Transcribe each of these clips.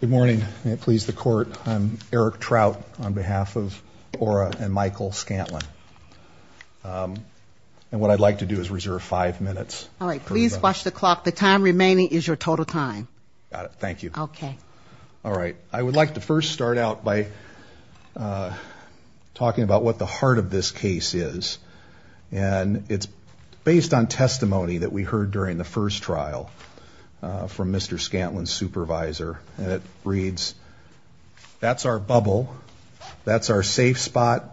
Good morning. May it please the Court, I'm Eric Trout on behalf of Aura and Michael Scantlin. And what I'd like to do is reserve five minutes. All right. Please watch the clock. The time remaining is your total time. Got it. Thank you. Okay. All right. I would like to first start out by talking about what the heart of this case is. And it's based on testimony that we heard during the first trial from Mr. Scantlin's supervisor. And it reads, that's our bubble, that's our safe spot.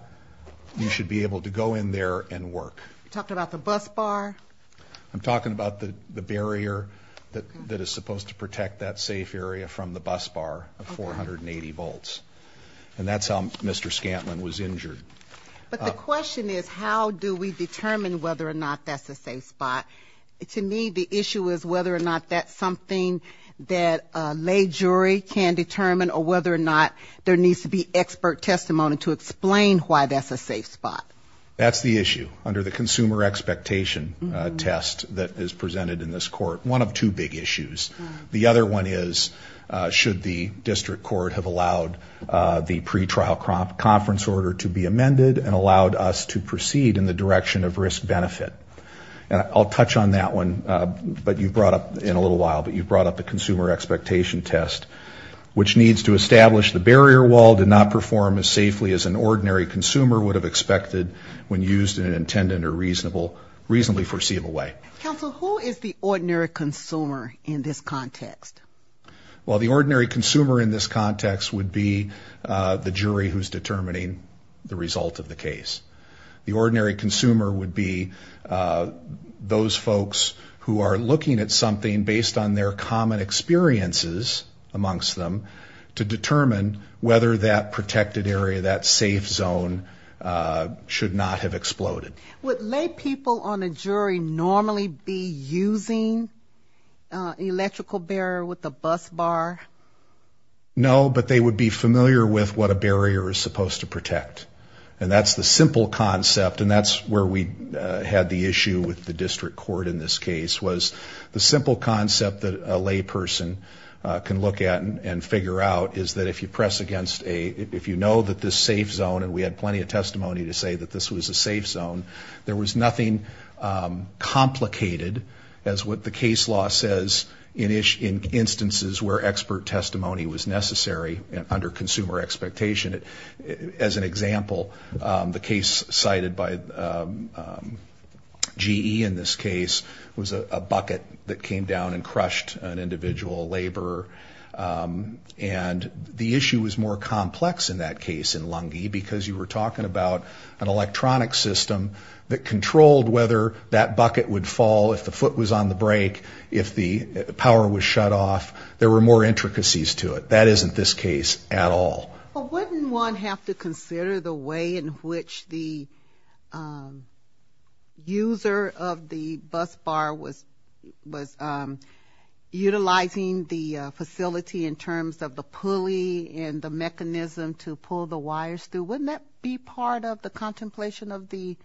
You should be able to go in there and work. You're talking about the bus bar? I'm talking about the barrier that is supposed to protect that safe area from the bus bar of 480 volts. And that's how Mr. Scantlin was injured. But the question is, how do we determine whether or not that's a safe spot? To me, the issue is whether or not that's something that a lay jury can determine or whether or not there needs to be expert testimony to explain why that's a safe spot. That's the issue under the consumer expectation test that is presented in this court, one of two big issues. The other one is, should the district court have allowed the pretrial conference order to be amended and allowed us to proceed in the direction of risk benefit? And I'll touch on that one in a little while, but you brought up the consumer expectation test, which needs to establish the barrier wall did not perform as safely as an ordinary consumer would have expected when used in an intended or reasonably foreseeable way. Counsel, who is the ordinary consumer in this context? Well, the ordinary consumer in this context would be the jury who's determining the result of the case. The ordinary consumer would be those folks who are looking at something based on their common experiences amongst them to determine whether that protected area, that safe zone, should not have exploded. Would lay people on a jury normally be using an electrical barrier with a bus bar? No, but they would be familiar with what a barrier is supposed to protect. And that's the simple concept, and that's where we had the issue with the district court in this case, was the simple concept that a lay person can look at and figure out is that if you press against a, if you know that this safe zone, and we had plenty of testimony to say that this was a safe zone, there was nothing complicated as what the case law says in instances where expert testimony was necessary under consumer expectation. As an example, the case cited by GE in this case was a bucket that came down and crushed an individual laborer. And the issue was more complex in that case in Lungi because you were talking about an electronic system that controlled whether that bucket would fall if the foot was on the brake, if the power was shut off. There were more intricacies to it. That isn't this case at all. Well, wouldn't one have to consider the way in which the user of the bus bar was utilizing the facility in terms of the pulley and the mechanism to pull the wires through? Wouldn't that be part of the contemplation of the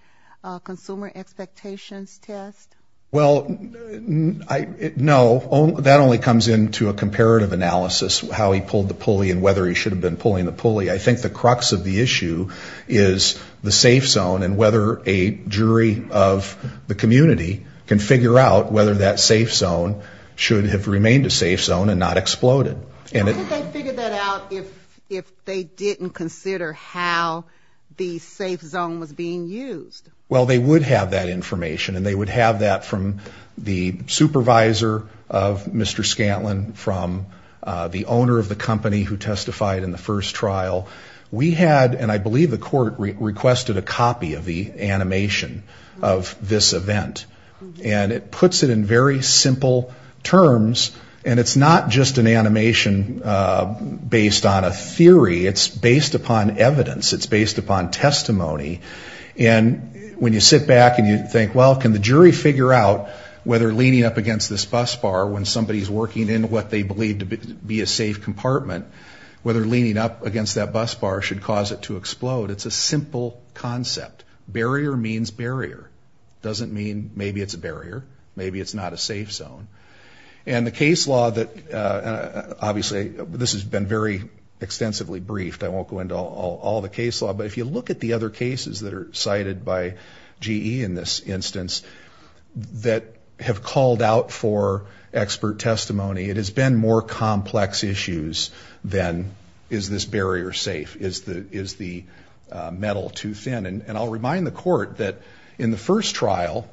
consumer expectations test? Well, no. That only comes into a comparative analysis, how he pulled the pulley and whether he should have been pulling the pulley. I think the crux of the issue is the safe zone and whether a jury of the community can figure out whether that safe zone should have remained a safe zone and not exploded. I think they'd figure that out if they didn't consider how the safe zone was being used. Well, they would have that information, and they would have that from the supervisor of Mr. Scantlin, from the owner of the company who testified in the first trial. We had, and I believe the court requested a copy of the animation of this event. And it puts it in very simple terms, and it's not just an animation based on a theory. It's based upon evidence. It's based upon testimony. And when you sit back and you think, well, can the jury figure out whether leaning up against this bus bar when somebody's working in what they believe to be a safe compartment, whether leaning up against that bus bar should cause it to explode? It's a simple concept. Barrier means barrier. It doesn't mean maybe it's a barrier. Maybe it's not a safe zone. And the case law that, obviously, this has been very extensively briefed. I won't go into all the case law. But if you look at the other cases that are cited by GE in this instance that have called out for expert testimony, it has been more complex issues than is this barrier safe, is the metal too thin. And I'll remind the court that in the first trial,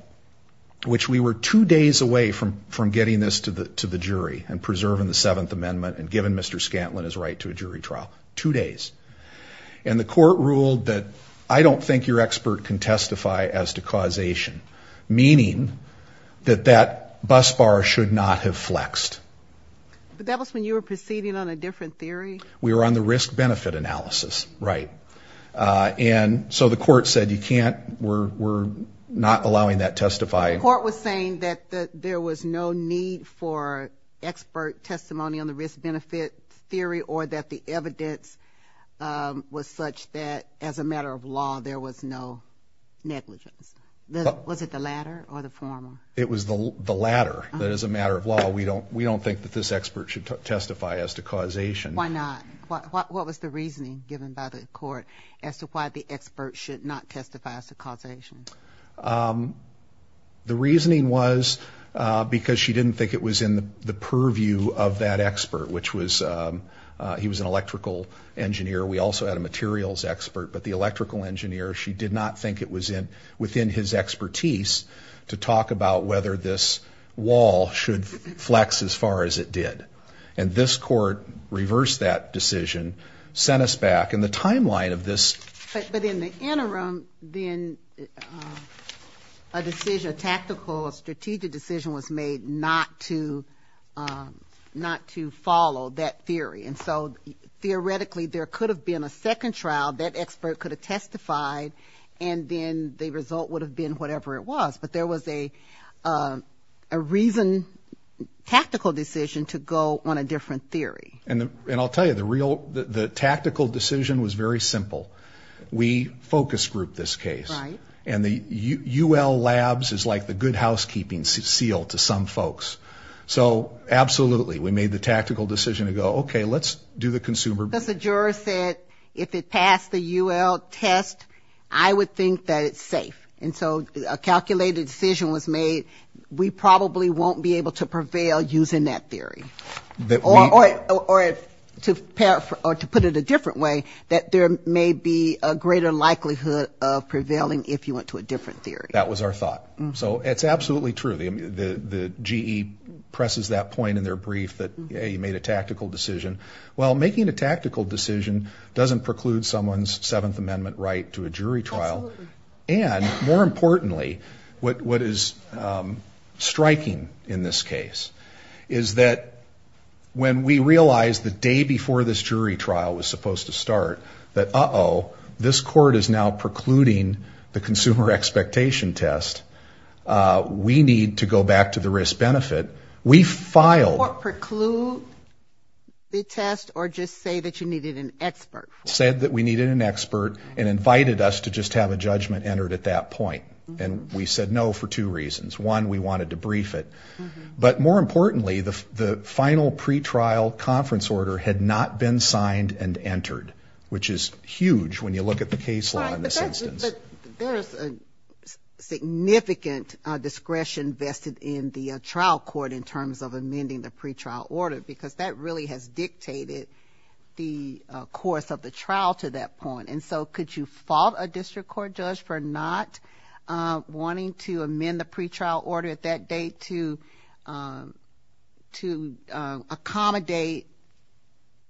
which we were two days away from getting this to the jury and preserving the Seventh Amendment and giving Mr. Scantlin his right to a jury trial, two days. And the court ruled that I don't think your expert can testify as to causation, meaning that that bus bar should not have flexed. But that was when you were proceeding on a different theory? We were on the risk-benefit analysis, right. And so the court said you can't, we're not allowing that testifying. The court was saying that there was no need for expert testimony on the risk-benefit theory or that the evidence was such that as a matter of law, there was no negligence. Was it the latter or the former? It was the latter. That as a matter of law, we don't think that this expert should testify as to causation. Why not? What was the reasoning given by the court as to why the expert should not testify as to causation? The reasoning was because she didn't think it was in the purview of that expert, which was he was an electrical engineer. We also had a materials expert. But the electrical engineer, she did not think it was within his expertise to talk about whether this wall should flex as far as it did. And this court reversed that decision, sent us back. But in the interim, then a decision, a tactical, a strategic decision was made not to follow that theory. And so theoretically, there could have been a second trial. That expert could have testified, and then the result would have been whatever it was. But there was a reason, tactical decision to go on a different theory. And I'll tell you, the tactical decision was very simple. We focus group this case. Right. And the UL labs is like the good housekeeping seal to some folks. So absolutely, we made the tactical decision to go, okay, let's do the consumer. Because the juror said if it passed the UL test, I would think that it's safe. And so a calculated decision was made, we probably won't be able to prevail using that theory. Or to put it a different way, that there may be a greater likelihood of prevailing if you went to a different theory. That was our thought. So it's absolutely true. The GE presses that point in their brief that, hey, you made a tactical decision. Well, making a tactical decision doesn't preclude someone's Seventh Amendment right to a jury trial. Absolutely. And more importantly, what is striking in this case is that when we realized the day before this jury trial was supposed to start, that, uh-oh, this court is now precluding the consumer expectation test, we need to go back to the risk-benefit. We filed. Or preclude the test or just say that you needed an expert. Said that we needed an expert and invited us to just have a judgment entered at that point. And we said no for two reasons. One, we wanted to brief it. But more importantly, the final pretrial conference order had not been signed and entered, which is huge when you look at the case law in this instance. But there is a significant discretion vested in the trial court in terms of amending the pretrial order, because that really has dictated the course of the trial to that point. And so could you fault a district court judge for not wanting to amend the pretrial order at that date to accommodate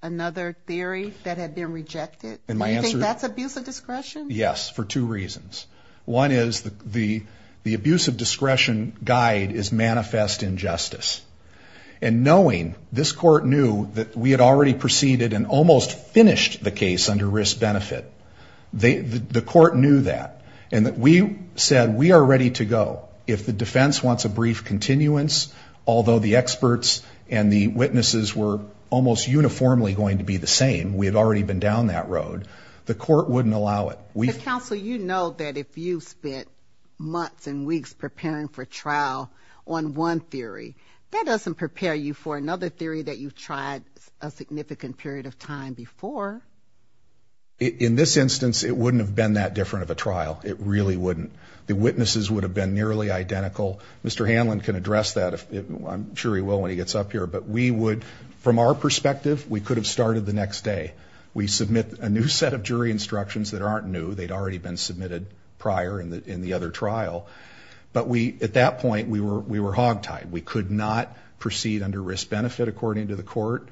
another theory that had been rejected? Do you think that's abuse of discretion? Yes, for two reasons. One is the abuse of discretion guide is manifest injustice. And knowing this court knew that we had already proceeded and almost finished the case under risk-benefit. The court knew that. And we said we are ready to go. If the defense wants a brief continuance, although the experts and the witnesses were almost uniformly going to be the same, we had already been down that road, the court wouldn't allow it. Counsel, you know that if you spent months and weeks preparing for trial on one theory, that doesn't prepare you for another theory that you've tried a significant period of time before. In this instance, it wouldn't have been that different of a trial. It really wouldn't. The witnesses would have been nearly identical. Mr. Hanlon can address that. I'm sure he will when he gets up here. But we would, from our perspective, we could have started the next day. We submit a new set of jury instructions that aren't new. They'd already been submitted prior in the other trial. But we, at that point, we were hog-tied. We could not proceed under risk-benefit according to the court.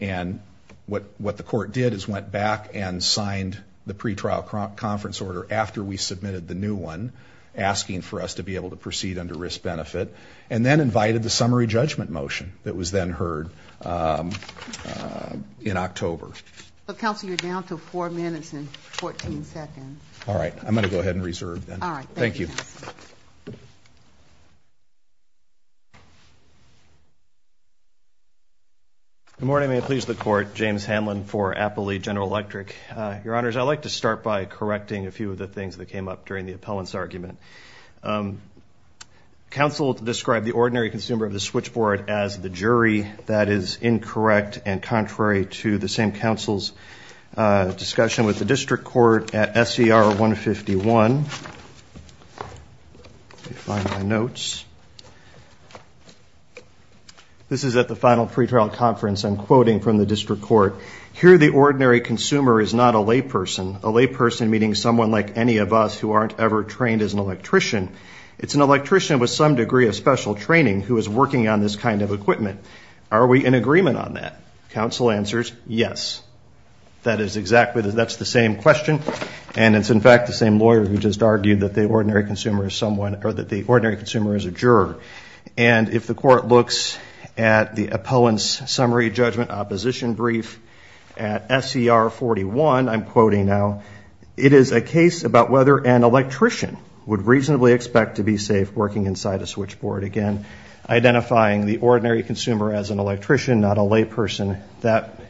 And what the court did is went back and signed the pretrial conference order after we submitted the new one, asking for us to be able to proceed under risk-benefit. And then invited the summary judgment motion that was then heard in October. Counsel, you're down to four minutes and 14 seconds. All right. I'm going to go ahead and reserve then. All right. Thank you. Good morning. May it please the Court. James Hanlon for Appley General Electric. Your Honors, I'd like to start by correcting a few of the things that came up during the appellant's argument. Counsel described the ordinary consumer of the switchboard as the jury. That is incorrect and contrary to the same counsel's discussion with the district court at SER 151. Let me find my notes. This is at the final pretrial conference. I'm quoting from the district court. Here the ordinary consumer is not a layperson. A layperson meaning someone like any of us who aren't ever trained as an electrician. It's an electrician with some degree of special training who is working on this kind of equipment. Are we in agreement on that? Counsel answers, yes. That is exactly, that's the same question. And it's, in fact, the same lawyer who just argued that the ordinary consumer is someone, or that the ordinary consumer is a juror. And if the court looks at the appellant's summary judgment opposition brief at SER 41, I'm quoting now, it is a case about whether an electrician would reasonably expect to be safe working inside a switchboard. Again, identifying the ordinary consumer as an electrician, not a layperson. That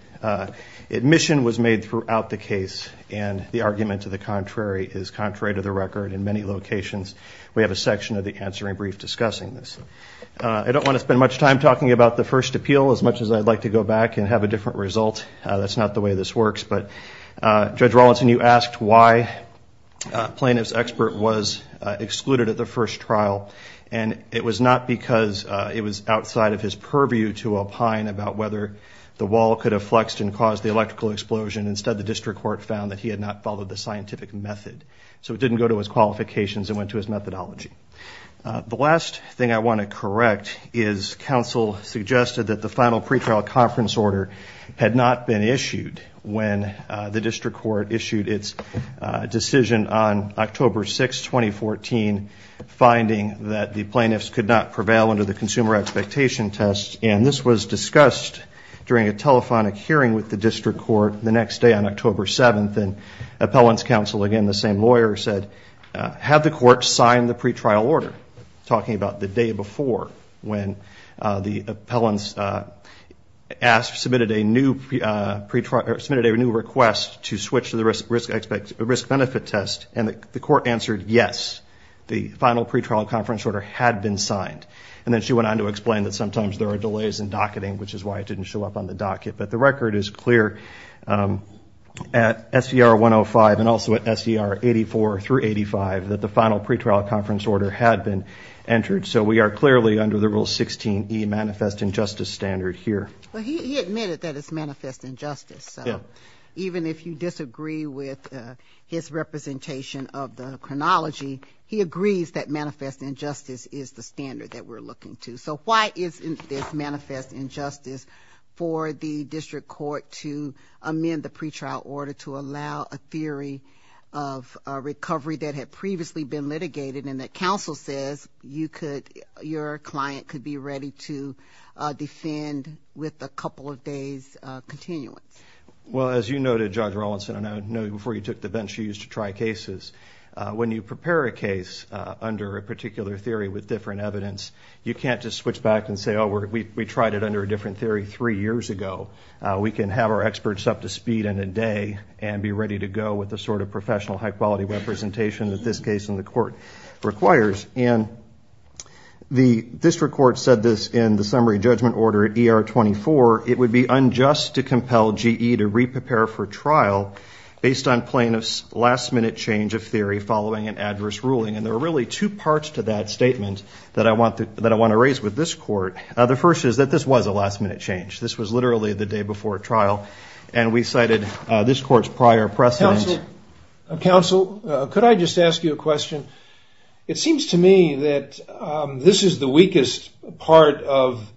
admission was made throughout the case, and the argument to the contrary is contrary to the record in many locations. We have a section of the answering brief discussing this. I don't want to spend much time talking about the first appeal as much as I'd like to go back and have a different result. That's not the way this works. But, Judge Rawlinson, you asked why plaintiff's expert was excluded at the first trial, and it was not because it was outside of his purview to opine about whether the wall could have flexed and caused the electrical explosion. Instead, the district court found that he had not followed the scientific method. So it didn't go to his qualifications. It went to his methodology. The last thing I want to correct is counsel suggested that the final pretrial conference order had not been issued when the district court issued its decision on October 6, 2014, finding that the plaintiffs could not prevail under the consumer expectation test. And this was discussed during a telephonic hearing with the district court the next day on October 7th. And appellant's counsel, again, the same lawyer, said, have the court signed the pretrial order, talking about the day before, when the appellant submitted a new request to switch to the risk-benefit test. And the court answered yes, the final pretrial conference order had been signed. And then she went on to explain that sometimes there are delays in docketing, which is why it didn't show up on the docket. But the record is clear at SDR 105 and also at SDR 84 through 85 that the final pretrial conference order had been entered. So we are clearly under the Rule 16E manifest injustice standard here. Well, he admitted that it's manifest injustice. So even if you disagree with his representation of the chronology, he agrees that manifest injustice is the standard that we're looking to. So why isn't this manifest injustice for the district court to amend the pretrial order to allow a theory of recovery that had previously been litigated and that counsel says your client could be ready to defend with a couple of days' continuance? Well, as you noted, Judge Rawlinson, and I know before you took the bench you used to try cases, when you prepare a case under a particular theory with different evidence, you can't just switch back and say, oh, we tried it under a different theory three years ago. We can have our experts up to speed in a day and be ready to go with the sort of professional high-quality representation that this case in the court requires. And the district court said this in the summary judgment order at ER 24, it would be unjust to compel GE to re-prepare for trial based on plaintiff's last-minute change of theory following an adverse ruling. And there are really two parts to that statement that I want to raise with this court. The first is that this was a last-minute change. This was literally the day before trial, and we cited this court's prior precedent. Counsel, could I just ask you a question? It seems to me that this is the weakest part of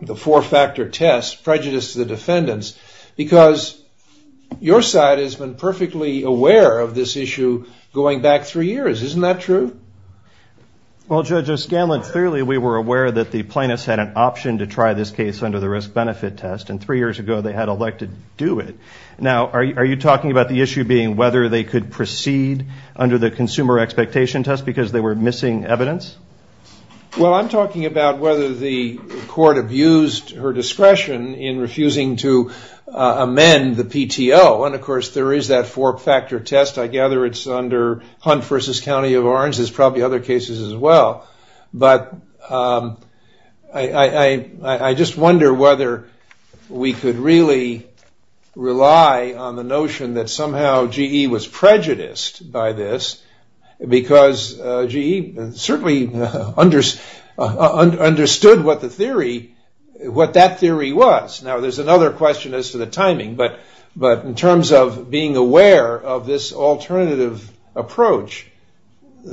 the four-factor test, prejudice to the defendants, because your side has been perfectly aware of this issue going back three years. Isn't that true? Well, Judge O'Scanlan, clearly we were aware that the plaintiffs had an option to try this case under the risk-benefit test, and three years ago they had elected to do it. Now, are you talking about the issue being whether they could proceed under the consumer expectation test because they were missing evidence? Well, I'm talking about whether the court abused her discretion in refusing to amend the PTO. And, of course, there is that four-factor test. I gather it's under Hunt v. County of Orange. There's probably other cases as well. But I just wonder whether we could really rely on the notion that somehow GE was prejudiced by this because GE certainly understood what that theory was. Now, there's another question as to the timing, but in terms of being aware of this alternative approach,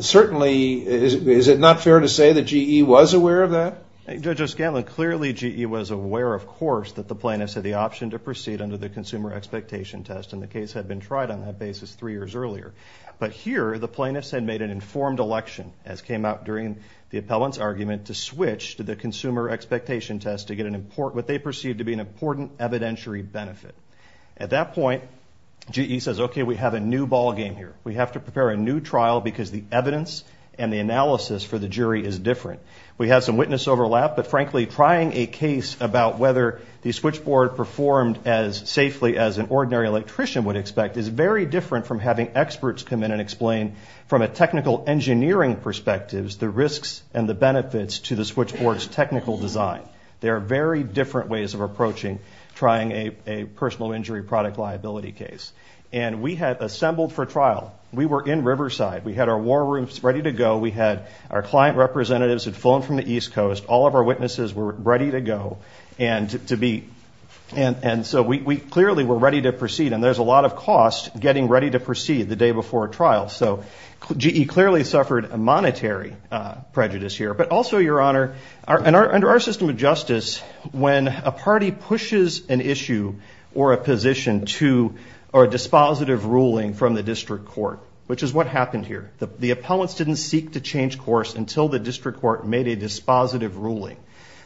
certainly is it not fair to say that GE was aware of that? Judge O'Scanlan, clearly GE was aware, of course, that the plaintiffs had the option to proceed under the consumer expectation test, and the case had been tried on that basis three years earlier. But here the plaintiffs had made an informed election, as came out during the appellant's argument, to switch to the consumer expectation test to get what they perceived to be an important evidentiary benefit. At that point, GE says, okay, we have a new ballgame here. We have to prepare a new trial because the evidence and the analysis for the jury is different. We have some witness overlap, but, frankly, trying a case about whether the switchboard performed as safely as an ordinary electrician would expect is very different from having experts come in and explain from a technical engineering perspective the risks and the benefits to the switchboard's technical design. There are very different ways of approaching trying a personal injury product liability case. And we had assembled for trial. We were in Riverside. We had our war rooms ready to go. We had our client representatives had flown from the East Coast. All of our witnesses were ready to go. And so we clearly were ready to proceed. And there's a lot of cost getting ready to proceed the day before a trial. So GE clearly suffered a monetary prejudice here. But also, Your Honor, under our system of justice, when a party pushes an issue or a position to a dispositive ruling from the district court, which is what happened here. The appellants didn't seek to change course until the district court made a dispositive ruling.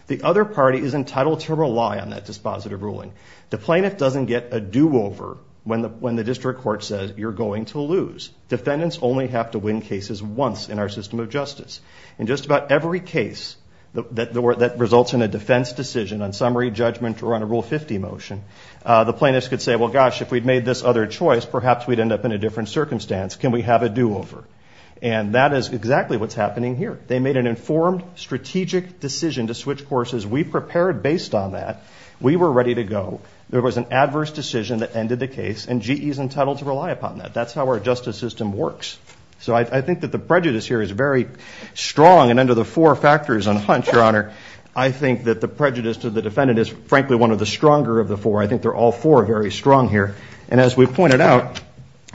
The other party is entitled to rely on that dispositive ruling. The plaintiff doesn't get a do-over when the district court says you're going to lose. Defendants only have to win cases once in our system of justice. In just about every case that results in a defense decision on summary judgment or on a Rule 50 motion, the plaintiffs could say, well, gosh, if we'd made this other choice, perhaps we'd end up in a different circumstance. Can we have a do-over? And that is exactly what's happening here. They made an informed, strategic decision to switch courses. We prepared based on that. We were ready to go. There was an adverse decision that ended the case, and GE is entitled to rely upon that. That's how our justice system works. So I think that the prejudice here is very strong, and under the four factors on hunch, Your Honor, I think that the prejudice to the defendant is, frankly, one of the stronger of the four. I think they're all four very strong here. And as we pointed out,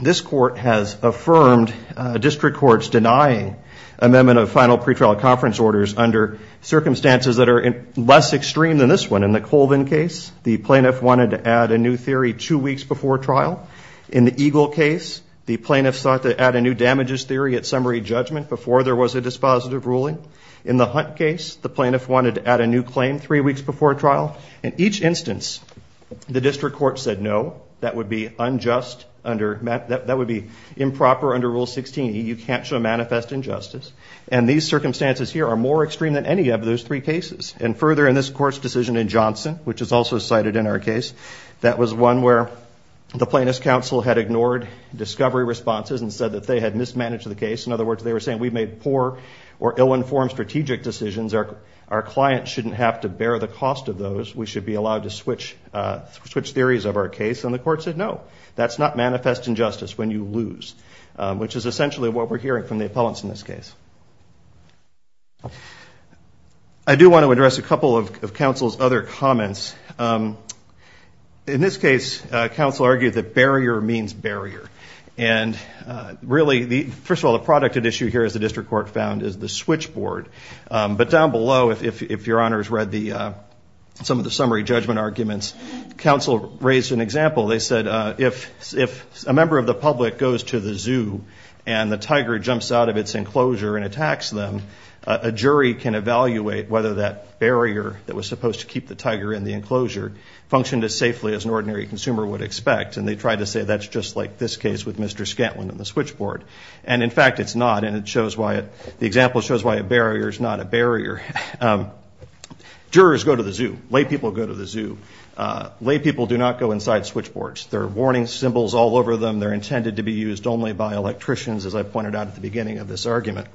this court has affirmed district courts denying amendment of final pretrial conference orders under circumstances that are less extreme than this one. In the Colvin case, the plaintiff wanted to add a new theory two weeks before trial. In the Eagle case, the plaintiff sought to add a new damages theory at summary judgment before there was a dispositive ruling. In the Hunt case, the plaintiff wanted to add a new claim three weeks before trial. In each instance, the district court said, no, that would be unjust, that would be improper under Rule 16. You can't show manifest injustice. And these circumstances here are more extreme than any of those three cases. And further, in this court's decision in Johnson, which is also cited in our case, that was one where the plaintiff's counsel had ignored discovery responses and said that they had mismanaged the case. In other words, they were saying we made poor or ill-informed strategic decisions. Our client shouldn't have to bear the cost of those. We should be allowed to switch theories of our case. And the court said, no, that's not manifest injustice when you lose, which is essentially what we're hearing from the appellants in this case. I do want to address a couple of counsel's other comments. In this case, counsel argued that barrier means barrier. And really, first of all, the product at issue here, as the district court found, is the switchboard. But down below, if your honors read some of the summary judgment arguments, counsel raised an example. They said if a member of the public goes to the zoo and the tiger jumps out of its enclosure and attacks them, a jury can evaluate whether that barrier that was supposed to keep the tiger in the enclosure functioned as safely as an ordinary consumer would expect. And they tried to say that's just like this case with Mr. Scantlin and the switchboard. And, in fact, it's not. And the example shows why a barrier is not a barrier. Jurors go to the zoo. Lay people go to the zoo. Lay people do not go inside switchboards. There are warning symbols all over them. They're intended to be used only by electricians, as I pointed out at the beginning of this argument.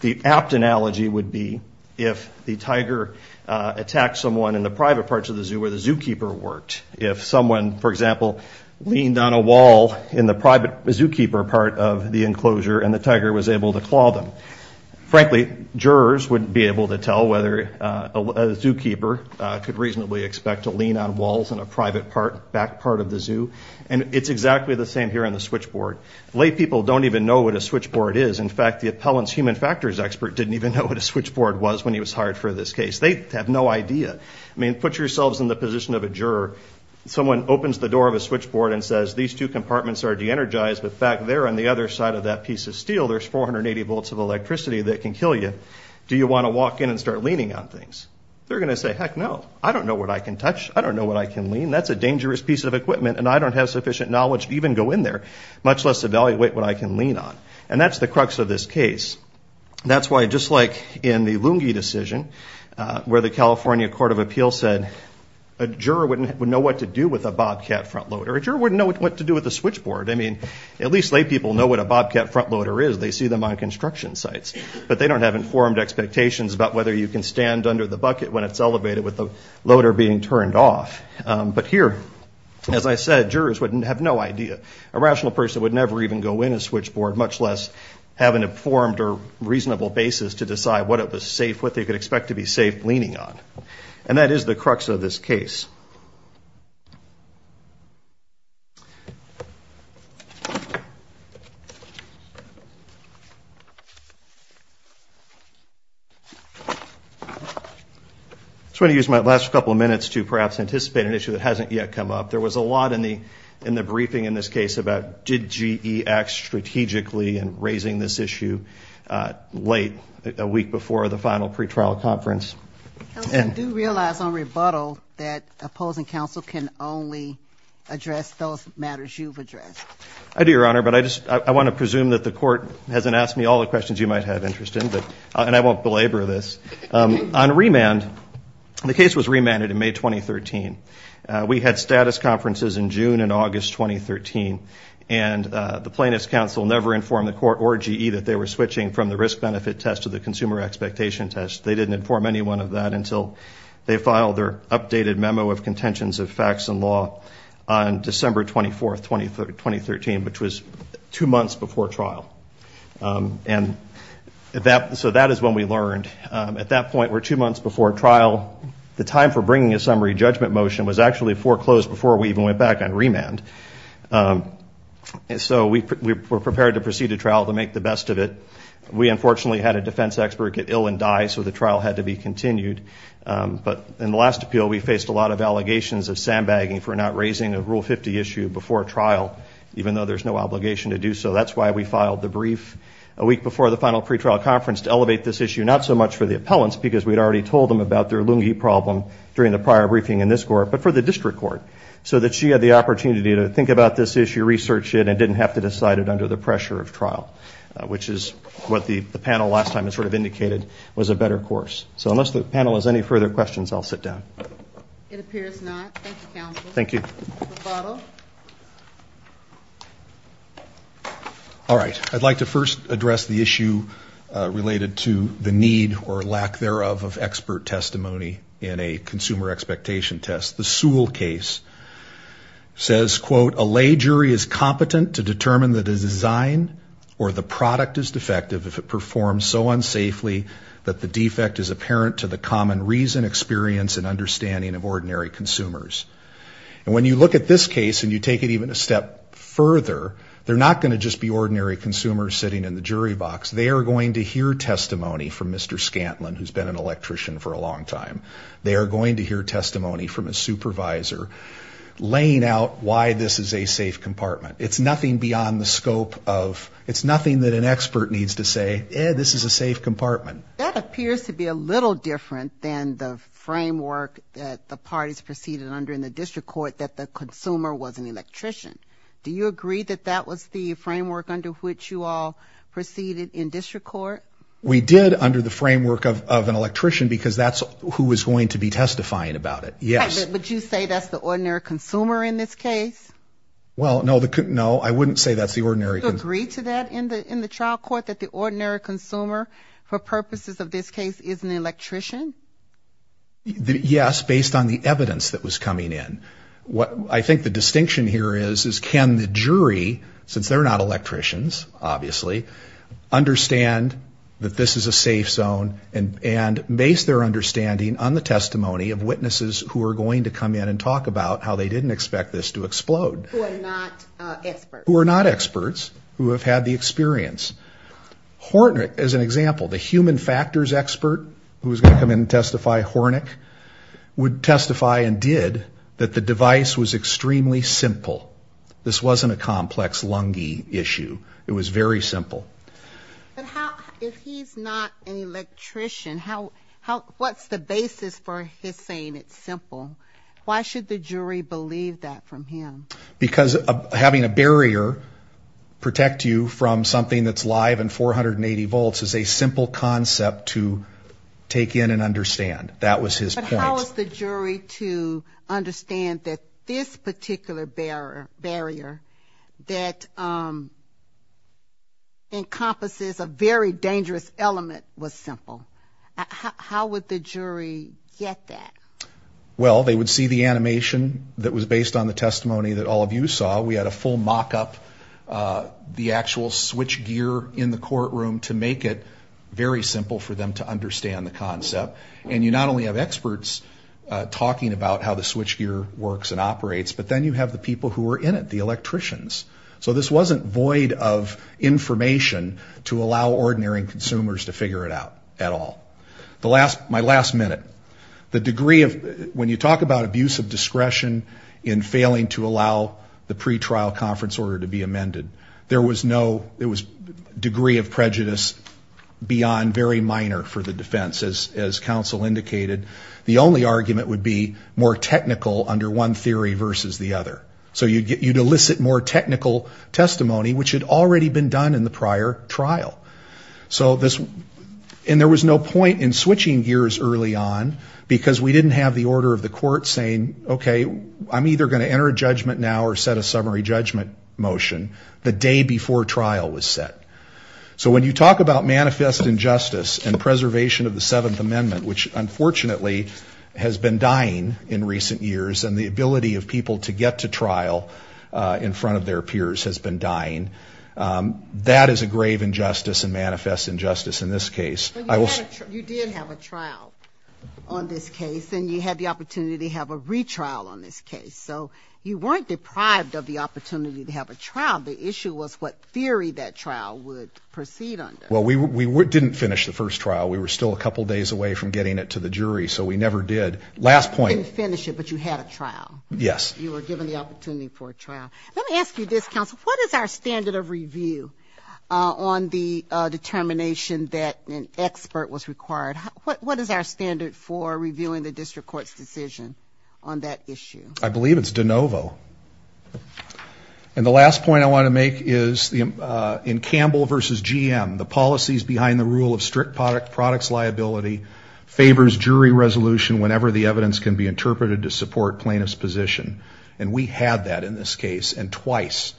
The apt analogy would be if the tiger attacked someone in the private parts of the zoo where the zookeeper worked. If someone, for example, leaned on a wall in the private zookeeper part of the enclosure and the tiger was able to claw them. Frankly, jurors wouldn't be able to tell whether a zookeeper could reasonably expect to lean on walls in a private back part of the zoo. And it's exactly the same here on the switchboard. Lay people don't even know what a switchboard is. In fact, the appellant's human factors expert didn't even know what a switchboard was when he was hired for this case. They have no idea. I mean, put yourselves in the position of a juror. Someone opens the door of a switchboard and says these two compartments are de-energized. In fact, they're on the other side of that piece of steel. There's 480 volts of electricity that can kill you. Do you want to walk in and start leaning on things? They're going to say, heck no. I don't know what I can touch. I don't know what I can lean. That's a dangerous piece of equipment, and I don't have sufficient knowledge to even go in there, much less evaluate what I can lean on. And that's the crux of this case. That's why just like in the Lungi decision where the California Court of Appeals said a juror wouldn't know what to do with a bobcat front loader, a juror wouldn't know what to do with a switchboard. I mean, at least laypeople know what a bobcat front loader is. They see them on construction sites. But they don't have informed expectations about whether you can stand under the bucket when it's elevated with the loader being turned off. But here, as I said, jurors would have no idea. A rational person would never even go in a switchboard, much less have an informed or reasonable basis to decide what it was safe, what they could expect to be safe leaning on. And that is the crux of this case. I just want to use my last couple of minutes to perhaps anticipate an issue that hasn't yet come up. There was a lot in the briefing in this case about did GE act strategically in raising this issue late, a week before the final pretrial conference. I do realize on rebuttal that opposing counsel can only address those matters you've addressed. I do, Your Honor, but I want to presume that the court hasn't asked me all the questions you might have interest in. And I won't belabor this. On remand, the case was remanded in May 2013. We had status conferences in June and August 2013. And the plaintiff's counsel never informed the court or GE that they were switching from the risk-benefit test to the consumer expectation test. They didn't inform anyone of that until they filed their updated memo of contentions of facts and law on December 24, 2013, which was two months before trial. And so that is when we learned. At that point, we're two months before trial. The time for bringing a summary judgment motion was actually foreclosed before we even went back on remand. And so we were prepared to proceed to trial to make the best of it. We, unfortunately, had a defense expert get ill and die, so the trial had to be continued. But in the last appeal, we faced a lot of allegations of sandbagging for not raising a Rule 50 issue before trial, even though there's no obligation to do so. That's why we filed the brief a week before the final pretrial conference to elevate this issue, not so much for the appellants, because we'd already told them about their Lungi problem during the prior briefing in this court, but for the district court, so that she had the opportunity to think about this issue, research it, and didn't have to decide it under the pressure of trial, which is what the panel last time has sort of indicated was a better course. So unless the panel has any further questions, I'll sit down. It appears not. Thank you, counsel. Thank you. All right. I'd like to first address the issue related to the need or lack thereof of expert testimony in a consumer expectation test. The Sewell case says, quote, a lay jury is competent to determine the design or the product is defective if it performs so unsafely that the defect is apparent to the common reason, experience, and understanding of ordinary consumers. And when you look at this case and you take it even a step further, they're not going to just be ordinary consumers sitting in the jury box. They are going to hear testimony from Mr. Scantlin, who's been an electrician for a long time. They are going to hear testimony from a supervisor laying out why this is a safe compartment. It's nothing beyond the scope of, it's nothing that an expert needs to say, eh, this is a safe compartment. That appears to be a little different than the framework that the parties proceeded under in the district court that the consumer was an electrician. Do you agree that that was the framework under which you all proceeded in district court? We did under the framework of an electrician because that's who was going to be testifying about it. Yes. But you say that's the ordinary consumer in this case? Well, no, I wouldn't say that's the ordinary consumer. Do you agree to that in the trial court, that the ordinary consumer for purposes of this case is an electrician? Yes, based on the evidence that was coming in. I think the distinction here is can the jury, since they're not electricians, obviously, understand that this is a safe zone and base their understanding on the testimony of witnesses who are going to come in and talk about how they didn't expect this to explode. Who are not experts. Who are not experts, who have had the experience. Hornick, as an example, the human factors expert who was going to come in and testify, Hornick, would testify and did that the device was extremely simple. This wasn't a complex lungy issue. It was very simple. But if he's not an electrician, what's the basis for his saying it's simple? Why should the jury believe that from him? Because having a barrier protect you from something that's live and 480 volts is a simple concept to take in and understand. That was his point. How was the jury to understand that this particular barrier that encompasses a very dangerous element was simple? How would the jury get that? Well, they would see the animation that was based on the testimony that all of you saw. We had a full mock-up, the actual switch gear in the courtroom to make it very simple for them to understand the concept. And you not only have experts talking about how the switch gear works and operates, but then you have the people who are in it, the electricians. So this wasn't void of information to allow ordinary consumers to figure it out at all. My last minute, the degree of, when you talk about abuse of discretion in failing to allow the pretrial conference order to be amended, there was no degree of prejudice beyond very minor for the defense, as counsel indicated. The only argument would be more technical under one theory versus the other. So you'd elicit more technical testimony, which had already been done in the prior trial. And there was no point in switching gears early on, because we didn't have the order of the court saying, okay, I'm either going to enter a judgment now or set a summary judgment motion the day before trial was set. So when you talk about manifest injustice and preservation of the Seventh Amendment, which unfortunately has been dying in recent years, and the ability of people to get to trial in front of their peers has been dying, that is a grave injustice and manifest injustice in this case. You did have a trial on this case, and you had the opportunity to have a retrial on this case. So you weren't deprived of the opportunity to have a trial. The issue was what theory that trial would proceed under. Well, we didn't finish the first trial. We were still a couple days away from getting it to the jury, so we never did. You didn't finish it, but you had a trial. Yes. You were given the opportunity for a trial. Let me ask you this, counsel. What is our standard of review on the determination that an expert was required? What is our standard for reviewing the district court's decision on that issue? I believe it's de novo. And the last point I want to make is in Campbell v. GM, the policies behind the rule of strict products liability favors jury resolution whenever the evidence can be interpreted to support plaintiff's position. And we had that in this case, and twice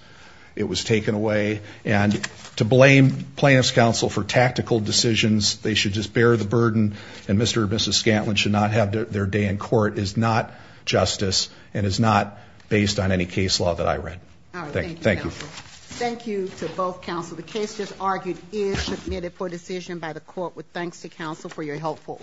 it was taken away. And to blame plaintiff's counsel for tactical decisions, they should just bear the burden and Mr. or Mrs. Scantlin should not have their day in court, is not justice and is not based on any case law that I read. All right. Thank you, counsel. Thank you. Thank you to both counsel. The case just argued is submitted for decision by the court. With thanks to counsel for your helpful audience.